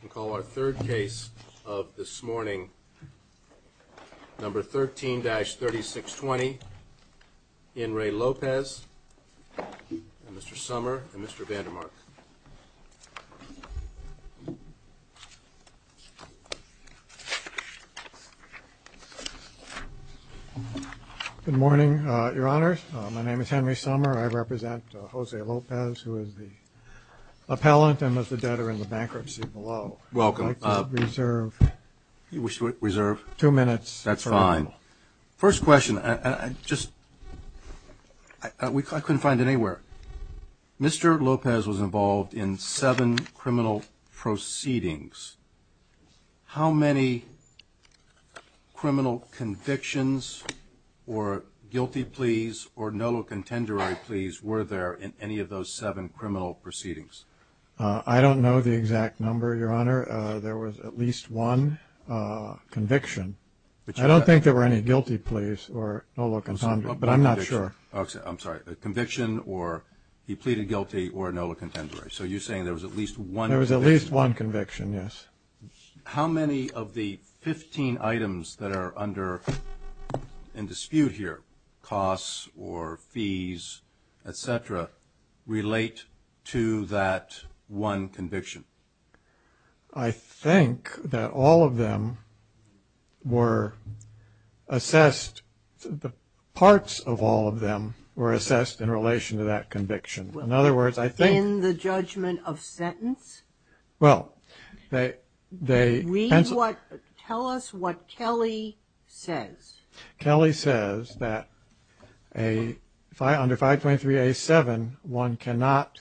We'll call our third case of this morning, number 13-3620 Henry Lopez and Mr. Sommer and Mr. Vandermark. Good morning, your honors. My name is Henry Sommer. I represent Jose Lopez, who is the appellant and the debtor in the bankruptcy below. Welcome. I'd like to reserve two minutes. That's fine. First question, I just, I couldn't find it anywhere. Mr. Lopez was involved in seven criminal proceedings. How many criminal convictions or guilty pleas or no contender pleas were there in any of those seven criminal proceedings? I don't know the exact number, your honor. There was at least one conviction. I don't think there were any guilty pleas or no contender, but I'm not sure. I'm sorry, conviction or he pleaded guilty or no contender. So you're saying there was at least one conviction. There was at least one conviction, yes. How many of the 15 items that are under dispute here, costs or fees, et cetera, relate to that one conviction? I think that all of them were assessed, parts of all of them were assessed in relation to that conviction. In other words, I think In the judgment of sentence? Well, they Read what, tell us what Kelly says. Kelly says that under 523A7, one cannot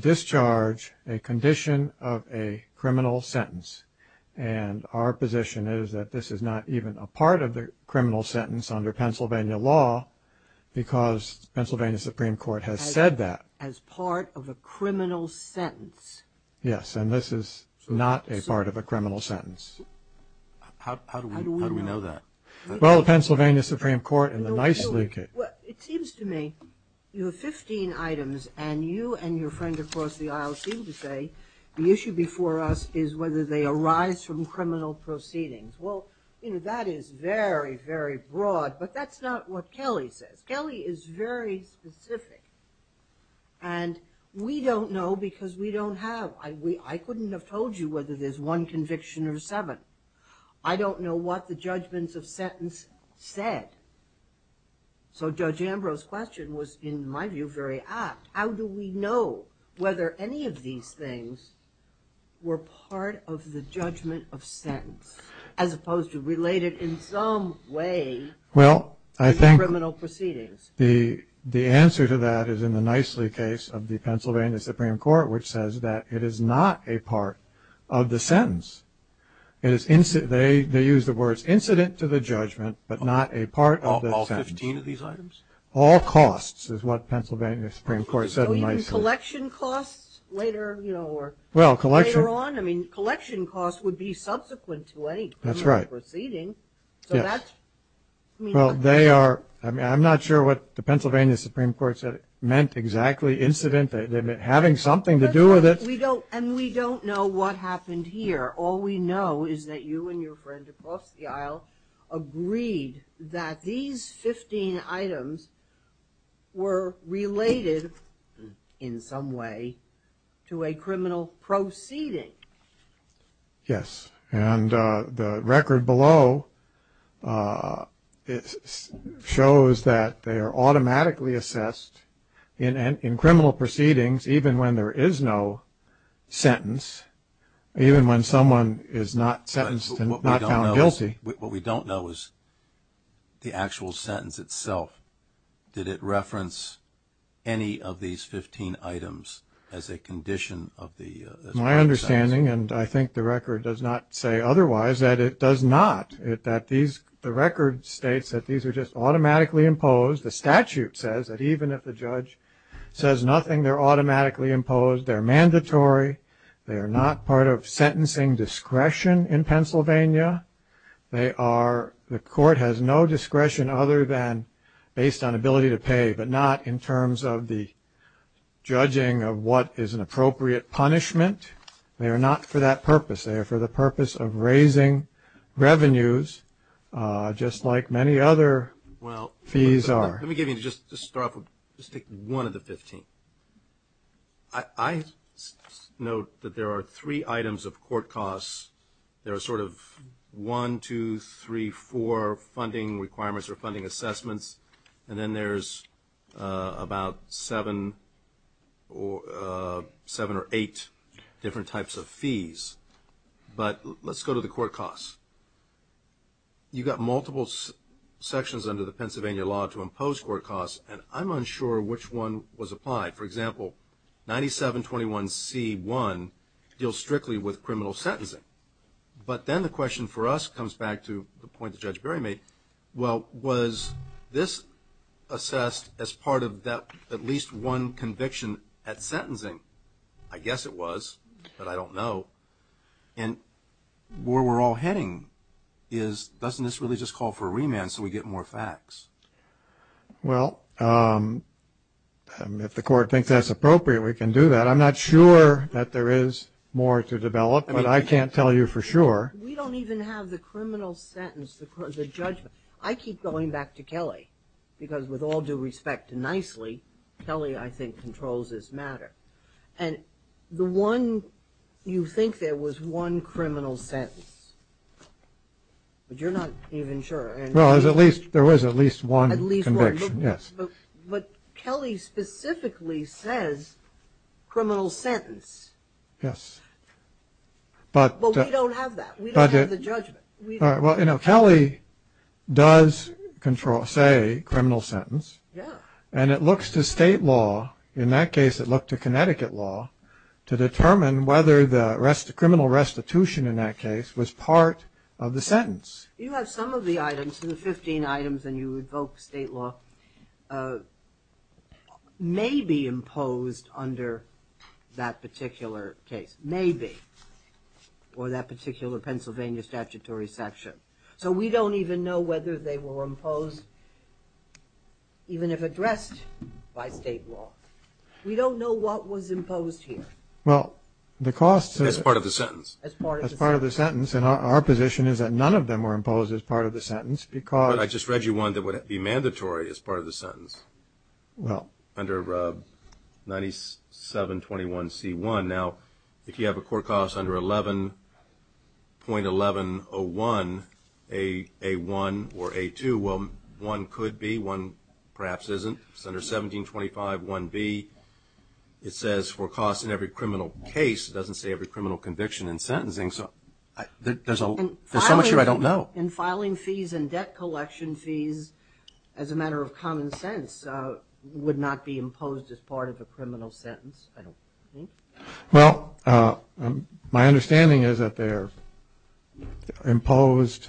discharge a condition of a criminal sentence. And our position is that this is not even a part of the criminal sentence under Pennsylvania law, because Pennsylvania Supreme Court has said that. As part of a criminal sentence. Yes, and this is not a part of a criminal sentence. How do we know that? Well, the Pennsylvania Supreme Court and the nicely It seems to me you have 15 items and you and your friend across the aisle seem to say the issue before us is whether they arise from criminal proceedings. Well, that is very, very broad. But that's not what Kelly says. Kelly is very specific. And we don't know because we don't have. I couldn't have told you whether there's one conviction or seven. I don't know what the judgments of sentence said. So Judge Ambrose's question was, in my view, very apt. How do we know whether any of these things were part of the judgment of sentence, as opposed to related in some way to criminal proceedings? The answer to that is in the nicely case of the Pennsylvania Supreme Court, which says that it is not a part of the sentence. They use the words incident to the judgment, but not a part of the sentence. All 15 of these items? All costs is what Pennsylvania Supreme Court said in nicely. So even collection costs later, you know, or later on? I mean, collection costs would be subsequent to any criminal proceeding. That's right. Yes. So that's, I mean. Well, they are. I mean, I'm not sure what the Pennsylvania Supreme Court said it meant exactly, incident. They meant having something to do with it. We don't. And we don't know what happened here. All we know is that you and your friend across the aisle agreed that these 15 items were related, in some way, to a criminal proceeding. Yes. And the record below shows that they are automatically assessed in criminal proceedings, even when there is no sentence, even when someone is not sentenced and not found guilty. What we don't know is the actual sentence itself. Did it reference any of these 15 items as a condition of the sentence? My understanding, and I think the record does not say otherwise, that it does not. The record states that these are just automatically imposed. The statute says that even if the judge says nothing, they're automatically imposed. They're mandatory. They are not part of sentencing discretion in Pennsylvania. The court has no discretion other than based on ability to pay, but not in terms of the judging of what is an appropriate punishment. They are not for that purpose. They are for the purpose of raising revenues, just like many other fees are. Let me give you, just to start off, just take one of the 15. I note that there are three items of court costs. There are sort of one, two, three, four funding requirements or funding assessments, and then there's about seven or eight different types of fees. But let's go to the court costs. You've got multiple sections under the Pennsylvania law to impose court costs, and I'm unsure which one was applied. For example, 9721C1 deals strictly with criminal sentencing. But then the question for us comes back to the point that Judge Berry made. Well, was this assessed as part of that at least one conviction at sentencing? I guess it was, but I don't know. And where we're all heading is doesn't this really just call for a remand so we get more facts? Well, if the court thinks that's appropriate, we can do that. I'm not sure that there is more to develop, but I can't tell you for sure. We don't even have the criminal sentence, the judgment. I keep going back to Kelly because with all due respect and nicely, Kelly, I think, controls this matter. And the one you think there was one criminal sentence, but you're not even sure. Well, there was at least one conviction, yes. But Kelly specifically says criminal sentence. Yes. But we don't have that. We don't have the judgment. Well, you know, Kelly does control, say, criminal sentence. And it looks to state law, in that case it looked to Connecticut law, to determine whether the criminal restitution in that case was part of the sentence. You have some of the items, the 15 items, and you invoke state law, may be imposed under that particular case. May be. Or that particular Pennsylvania statutory section. So we don't even know whether they were imposed, even if addressed by state law. We don't know what was imposed here. Well, the cost is part of the sentence. As part of the sentence. As part of the sentence. And our position is that none of them were imposed as part of the sentence because I just read you one that would be mandatory as part of the sentence. Well. Under 9721C1. Now, if you have a court cost under 11.1101A1 or A2, well, one could be. One perhaps isn't. It's under 17251B. It says for costs in every criminal case. It doesn't say every criminal conviction in sentencing. So there's so much here I don't know. Well, in filing fees and debt collection fees, as a matter of common sense, would not be imposed as part of a criminal sentence, I don't think. Well, my understanding is that they are imposed,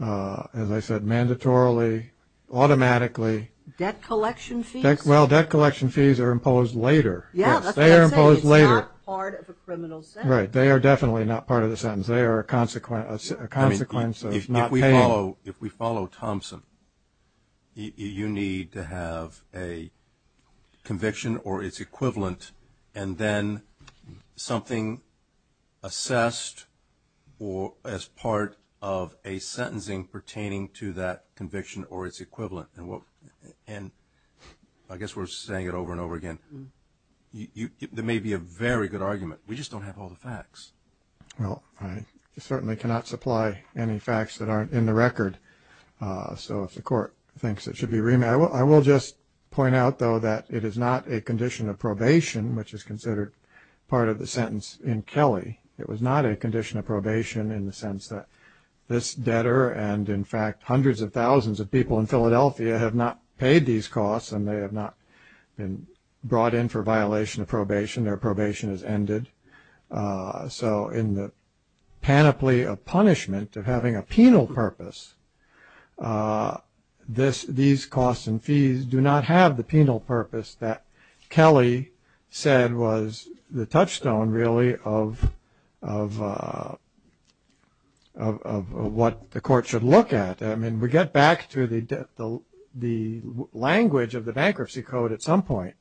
as I said, mandatorily, automatically. Debt collection fees? Well, debt collection fees are imposed later. Yeah, that's what I'm saying. They are imposed later. It's not part of a criminal sentence. Right. They are definitely not part of the sentence. They are a consequence of not paying. If we follow Thompson, you need to have a conviction or its equivalent and then something assessed as part of a sentencing pertaining to that conviction or its equivalent. And I guess we're saying it over and over again. There may be a very good argument. We just don't have all the facts. Well, I certainly cannot supply any facts that aren't in the record. So if the court thinks it should be remanded, I will just point out, though, that it is not a condition of probation, which is considered part of the sentence in Kelly. It was not a condition of probation in the sense that this debtor and, in fact, hundreds of thousands of people in Philadelphia have not paid these costs and they have not been brought in for violation of probation. Their probation has ended. So in the panoply of punishment of having a penal purpose, these costs and fees do not have the penal purpose that Kelly said was the touchstone, really, of what the court should look at. I mean, we get back to the language of the Bankruptcy Code at some point,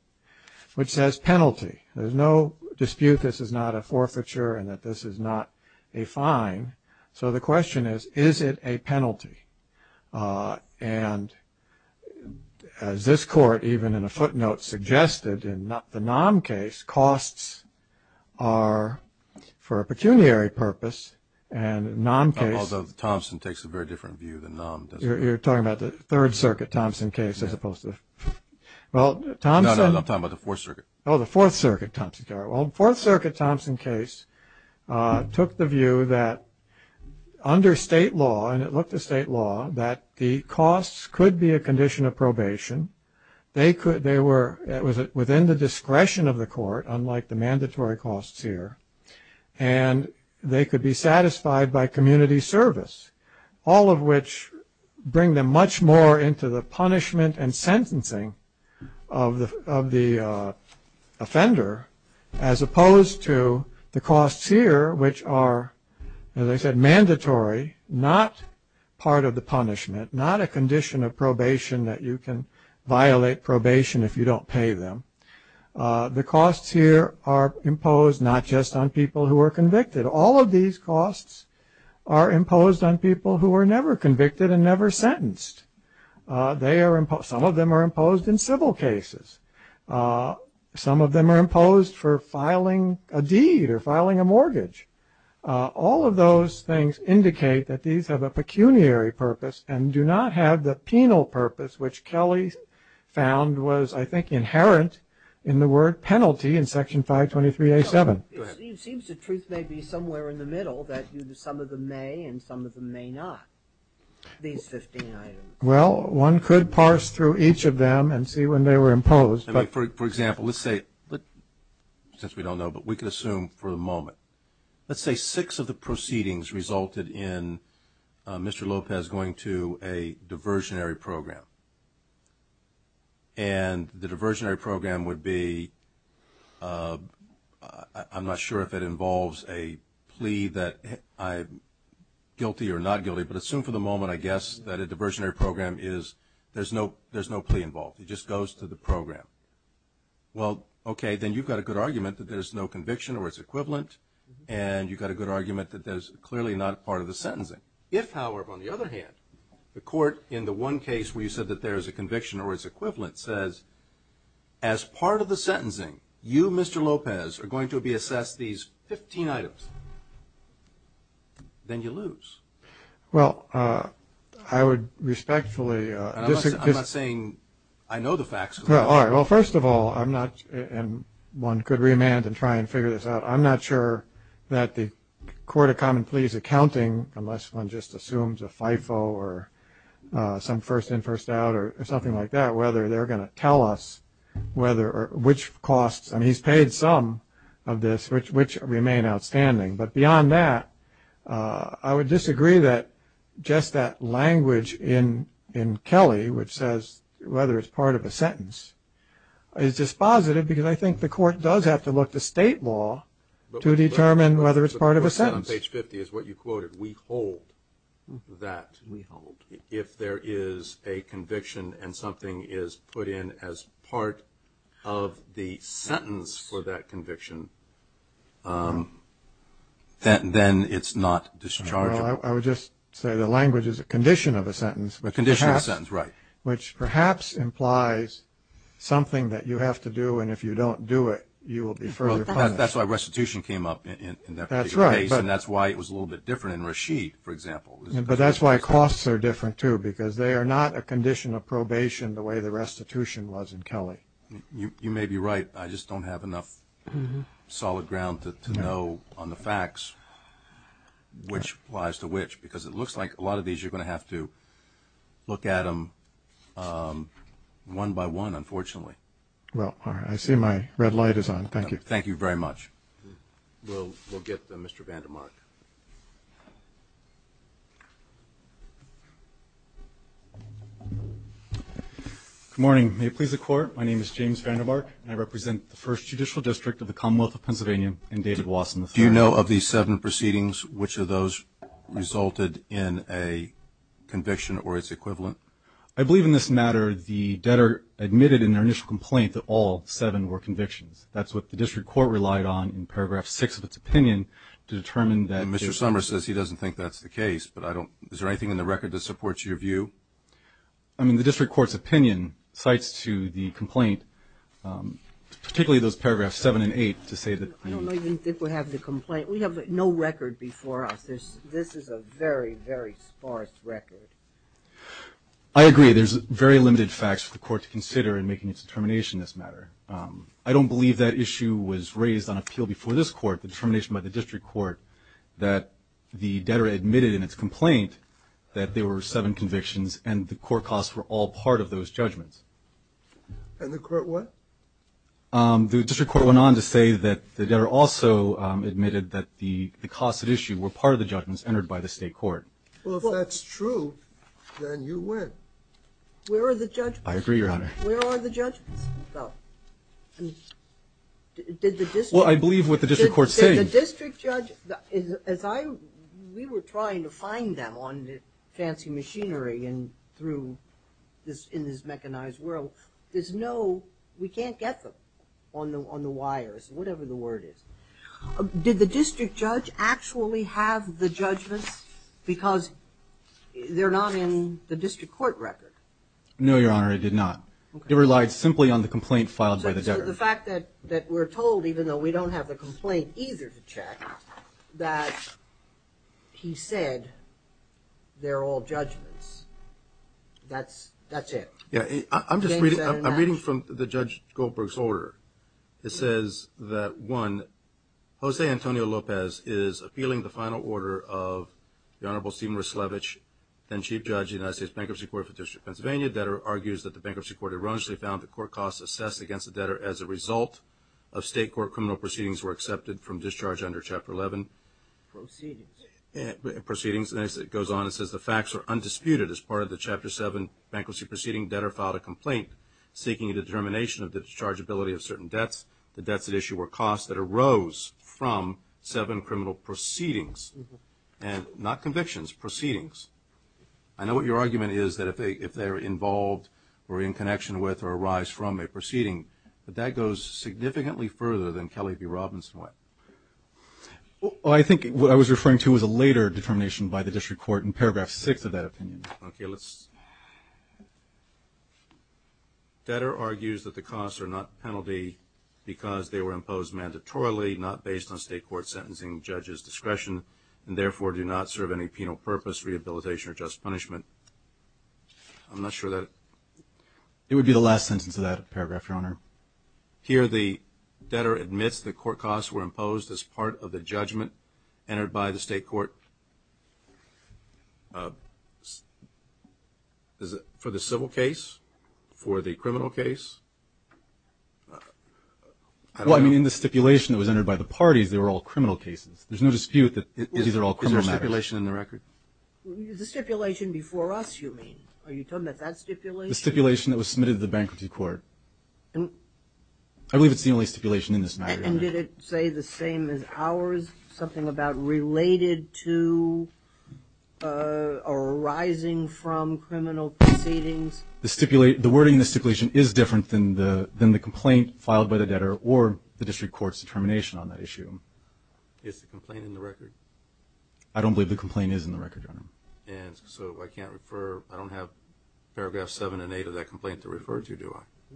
which says penalty. There's no dispute this is not a forfeiture and that this is not a fine. So the question is, is it a penalty? And as this court, even in a footnote, suggested in the NOM case, costs are for a pecuniary purpose, and NOM case… Although Thompson takes a very different view than NOM does. You're talking about the Third Circuit Thompson case as opposed to… No, no, I'm talking about the Fourth Circuit. Oh, the Fourth Circuit Thompson case. Well, the Fourth Circuit Thompson case took the view that under state law, and it looked to state law, that the costs could be a condition of probation. They were within the discretion of the court, unlike the mandatory costs here, and they could be satisfied by community service, all of which bring them much more into the punishment and sentencing of the offender, as opposed to the costs here, which are, as I said, mandatory, not part of the punishment, not a condition of probation that you can violate probation if you don't pay them. The costs here are imposed not just on people who are convicted. All of these costs are imposed on people who are never convicted and never sentenced. Some of them are imposed in civil cases. Some of them are imposed for filing a deed or filing a mortgage. All of those things indicate that these have a pecuniary purpose and do not have the penal purpose which Kelly found was, I think, inherent in the word penalty in Section 523A7. Go ahead. It seems the truth may be somewhere in the middle that some of them may and some of them may not, these 15 items. Well, one could parse through each of them and see when they were imposed. For example, let's say, since we don't know, but we can assume for the moment, let's say six of the proceedings resulted in Mr. Lopez going to a diversionary program, and the diversionary program would be, I'm not sure if it involves a plea that I'm guilty or not guilty, but assume for the moment, I guess, that a diversionary program is, there's no plea involved. It just goes to the program. Well, okay, then you've got a good argument that there's no conviction or it's equivalent, and you've got a good argument that there's clearly not part of the sentencing. If, however, on the other hand, the court in the one case where you said that there is a conviction or it's equivalent says, as part of the sentencing, you, Mr. Lopez, are going to be assessed these 15 items, then you lose. Well, I would respectfully disagree. I'm not saying I know the facts. All right. Well, first of all, I'm not, and one could remand and try and figure this out, but I'm not sure that the Court of Common Pleas Accounting, unless one just assumes a FIFO or some first in, first out or something like that, whether they're going to tell us which costs, and he's paid some of this, which remain outstanding. But beyond that, I would disagree that just that language in Kelly, is dispositive because I think the court does have to look to state law to determine whether it's part of a sentence. But what you said on page 50 is what you quoted, we hold that if there is a conviction and something is put in as part of the sentence for that conviction, then it's not discharging. Well, I would just say the language is a condition of a sentence. A condition of a sentence, right. Which perhaps implies something that you have to do, and if you don't do it, you will be further punished. That's why restitution came up in that particular case. That's right. And that's why it was a little bit different in Rasheed, for example. But that's why costs are different, too, because they are not a condition of probation the way the restitution was in Kelly. You may be right. I just don't have enough solid ground to know on the facts which applies to which, because it looks like a lot of these you're going to have to look at them one by one, unfortunately. Well, I see my red light is on. Thank you. Thank you very much. We'll get Mr. Vandermark. Good morning. May it please the Court, my name is James Vandermark, and I represent the First Judicial District of the Commonwealth of Pennsylvania and David Wasson III. Do you know of these seven proceedings, which of those resulted in a conviction or its equivalent? I believe in this matter the debtor admitted in their initial complaint that all seven were convictions. That's what the district court relied on in paragraph six of its opinion to determine that they were convictions. Mr. Summers says he doesn't think that's the case, but I don't. Is there anything in the record that supports your view? I mean, the district court's opinion cites to the complaint, particularly those paragraphs seven and eight to say that the ---- I don't even think we have the complaint. We have no record before us. This is a very, very sparse record. I agree. There's very limited facts for the court to consider in making its determination in this matter. I don't believe that issue was raised on appeal before this court, the determination by the district court, that the debtor admitted in its complaint that there were seven convictions and the court costs were all part of those judgments. And the court what? The district court went on to say that the debtor also admitted that the costs at issue were part of the judgments entered by the state court. Well, if that's true, then you win. Where are the judgments? I agree, Your Honor. Where are the judgments? Well, did the district? Well, I believe what the district court said. Did the district judge? Well, as I ---- we were trying to find them on fancy machinery and through this ---- in this mechanized world. There's no ---- we can't get them on the wires, whatever the word is. Did the district judge actually have the judgments because they're not in the district court record? No, Your Honor, it did not. It relied simply on the complaint filed by the debtor. The fact that we're told, even though we don't have the complaint either to check, that he said they're all judgments, that's it. I'm just reading from the Judge Goldberg's order. It says that, one, Jose Antonio Lopez is appealing the final order of the Honorable Stephen Rislevich, then Chief Judge of the United States Bankruptcy Court for the District of Pennsylvania. The debtor argues that the bankruptcy court erroneously found the court costs assessed against the debtor as a result of state court criminal proceedings were accepted from discharge under Chapter 11. Proceedings. Proceedings. And as it goes on, it says the facts are undisputed as part of the Chapter 7 bankruptcy proceeding. Debtor filed a complaint seeking a determination of the dischargeability of certain debts. The debts at issue were costs that arose from seven criminal proceedings, not convictions, proceedings. I know what your argument is, that if they're involved or in connection with or arise from a proceeding, but that goes significantly further than Kelly v. Robinson went. Well, I think what I was referring to was a later determination by the district court in Paragraph 6 of that opinion. Okay. Debtor argues that the costs are not penalty because they were imposed mandatorily, not based on state court sentencing judges' discretion, and therefore do not serve any penal purpose, rehabilitation, or just punishment. I'm not sure that. It would be the last sentence of that paragraph, Your Honor. Here the debtor admits the court costs were imposed as part of the judgment entered by the state court. Is it for the civil case? For the criminal case? Well, I mean, in the stipulation that was entered by the parties, they were all criminal cases. There's no dispute that these are all criminal matters. Is there a stipulation in the record? The stipulation before us, you mean? Are you talking about that stipulation? The stipulation that was submitted to the bankruptcy court. I believe it's the only stipulation in this matter, Your Honor. And did it say the same as ours, something about related to arising from criminal proceedings? The wording in the stipulation is different than the complaint filed by the debtor or the district court's determination on that issue. Is the complaint in the record? I don't believe the complaint is in the record, Your Honor. And so I can't refer, I don't have paragraph 7 and 8 of that complaint to refer to, do I?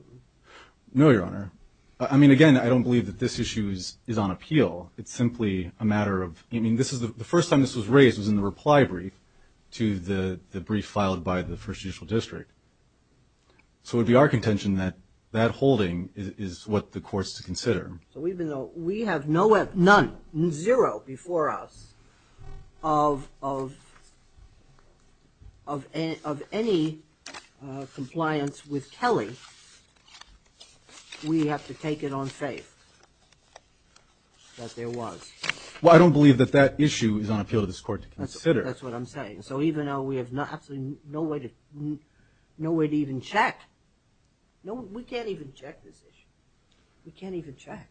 No, Your Honor. I mean, again, I don't believe that this issue is on appeal. It's simply a matter of, I mean, the first time this was raised was in the reply brief to the brief filed by the first judicial district. So it would be our contention that that holding is what the courts to consider. So even though we have none, zero before us of any compliance with Kelly, we have to take it on faith that there was. Well, I don't believe that that issue is on appeal to this court to consider. That's what I'm saying. So even though we have absolutely no way to even check, we can't even check this issue. We can't even check.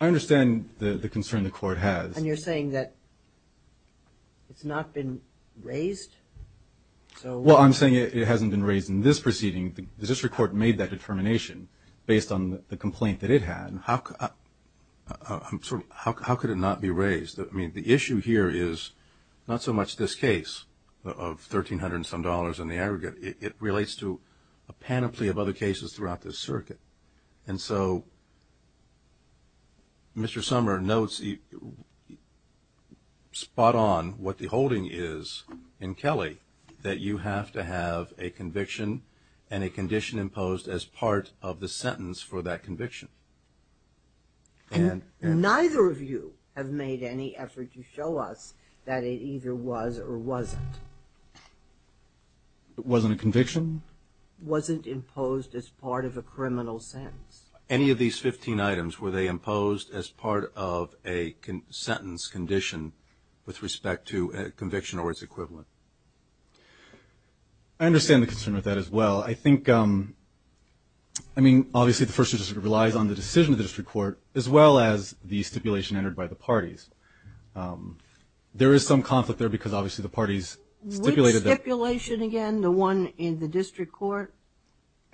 I understand the concern the court has. And you're saying that it's not been raised? Well, I'm saying it hasn't been raised in this proceeding. The district court made that determination based on the complaint that it had. How could it not be raised? I mean, the issue here is not so much this case of $1,300 and some dollars in the aggregate. It relates to a panoply of other cases throughout this circuit. And so Mr. Sommer notes spot on what the holding is in Kelly that you have to have a conviction and a condition imposed as part of the sentence for that conviction. Neither of you have made any effort to show us that it either was or wasn't. It wasn't a conviction? Wasn't imposed as part of a criminal sentence. Any of these 15 items, were they imposed as part of a sentence condition with respect to a conviction or its equivalent? I understand the concern with that as well. I think, I mean, obviously the First District relies on the decision of the district court as well as the stipulation entered by the parties. There is some conflict there because obviously the parties stipulated that. Which stipulation again? The one in the district court?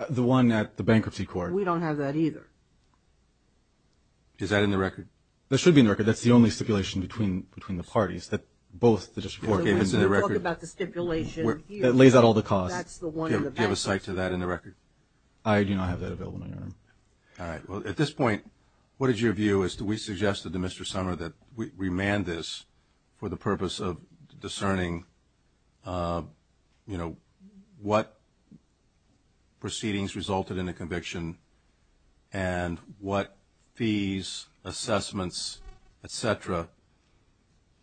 The one at the bankruptcy court. We don't have that either. Is that in the record? That should be in the record. That's the only stipulation between the parties that both the district court gave us in the record. When you talk about the stipulation here, that's the one in the bankruptcy court. Do you have a cite to that in the record? I do not have that available, Your Honor. All right. Well, at this point, what is your view as to we suggested to Mr. Sumner that we remand this for the purpose of discerning, you know, what proceedings resulted in a conviction and what fees, assessments, et cetera,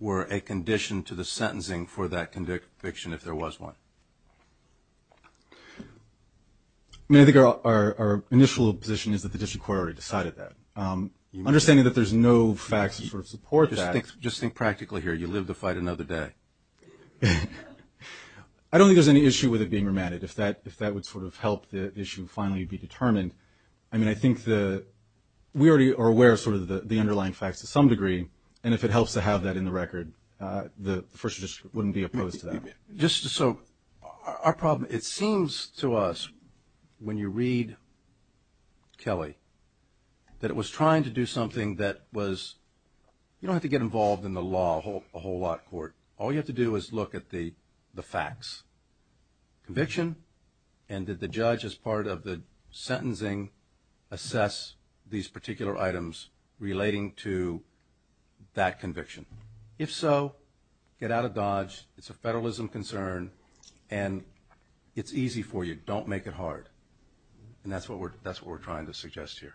were a condition to the sentencing for that conviction if there was one? I mean, I think our initial position is that the district court already decided that. Understanding that there's no facts to sort of support that. Just think practically here. You live to fight another day. I don't think there's any issue with it being remanded. If that would sort of help the issue finally be determined. I mean, I think we already are aware of sort of the underlying facts to some degree, and if it helps to have that in the record, the first district wouldn't be opposed to that. Just so our problem, it seems to us when you read Kelly that it was trying to do something that was, you don't have to get involved in the law a whole lot, court. All you have to do is look at the facts. Conviction and did the judge as part of the sentencing assess these particular items relating to that conviction? If so, get out of Dodge. It's a federalism concern, and it's easy for you. Don't make it hard. And that's what we're trying to suggest here.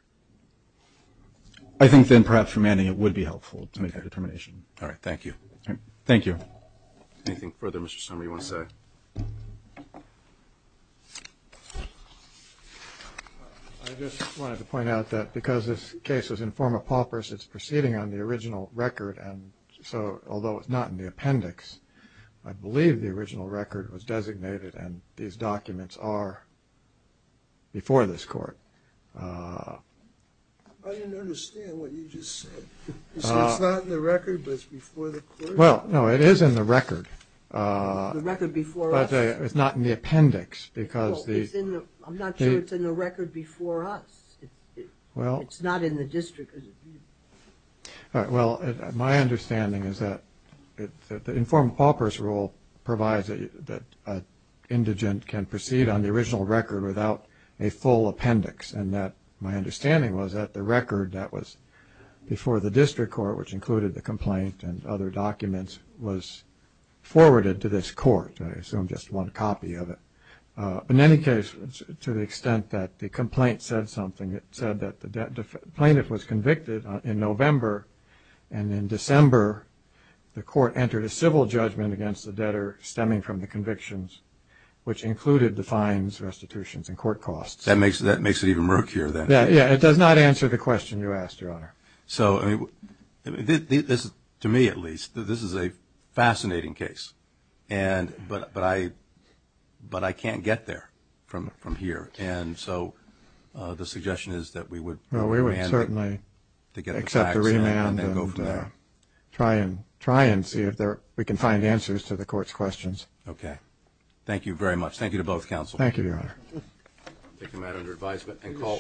I think then perhaps remanding it would be helpful to make that determination. All right. Thank you. Thank you. Anything further, Mr. Sumner, you want to say? I just wanted to point out that because this case was in forma paupers, it's proceeding on the original record, and so although it's not in the appendix, I believe the original record was designated, and these documents are before this court. I didn't understand what you just said. You said it's not in the record, but it's before the court? Well, no, it is in the record. The record before us? It's not in the appendix because the – I'm not sure it's in the record before us. It's not in the district. Well, my understanding is that the in forma paupers rule provides that an indigent can proceed on the original record without a full appendix, and that my understanding was that the record that was before the district court, which included the complaint and other documents, was forwarded to this court. I assume just one copy of it. In any case, to the extent that the complaint said something, it said that the plaintiff was convicted in November, and in December the court entered a civil judgment against the debtor stemming from the convictions, which included the fines, restitutions, and court costs. That makes it even murkier then. To me, at least, this is a fascinating case, but I can't get there from here. And so the suggestion is that we would – Well, we would certainly accept the remand and try and see if we can find answers to the court's questions. Okay. Thank you very much. Thank you, Your Honor.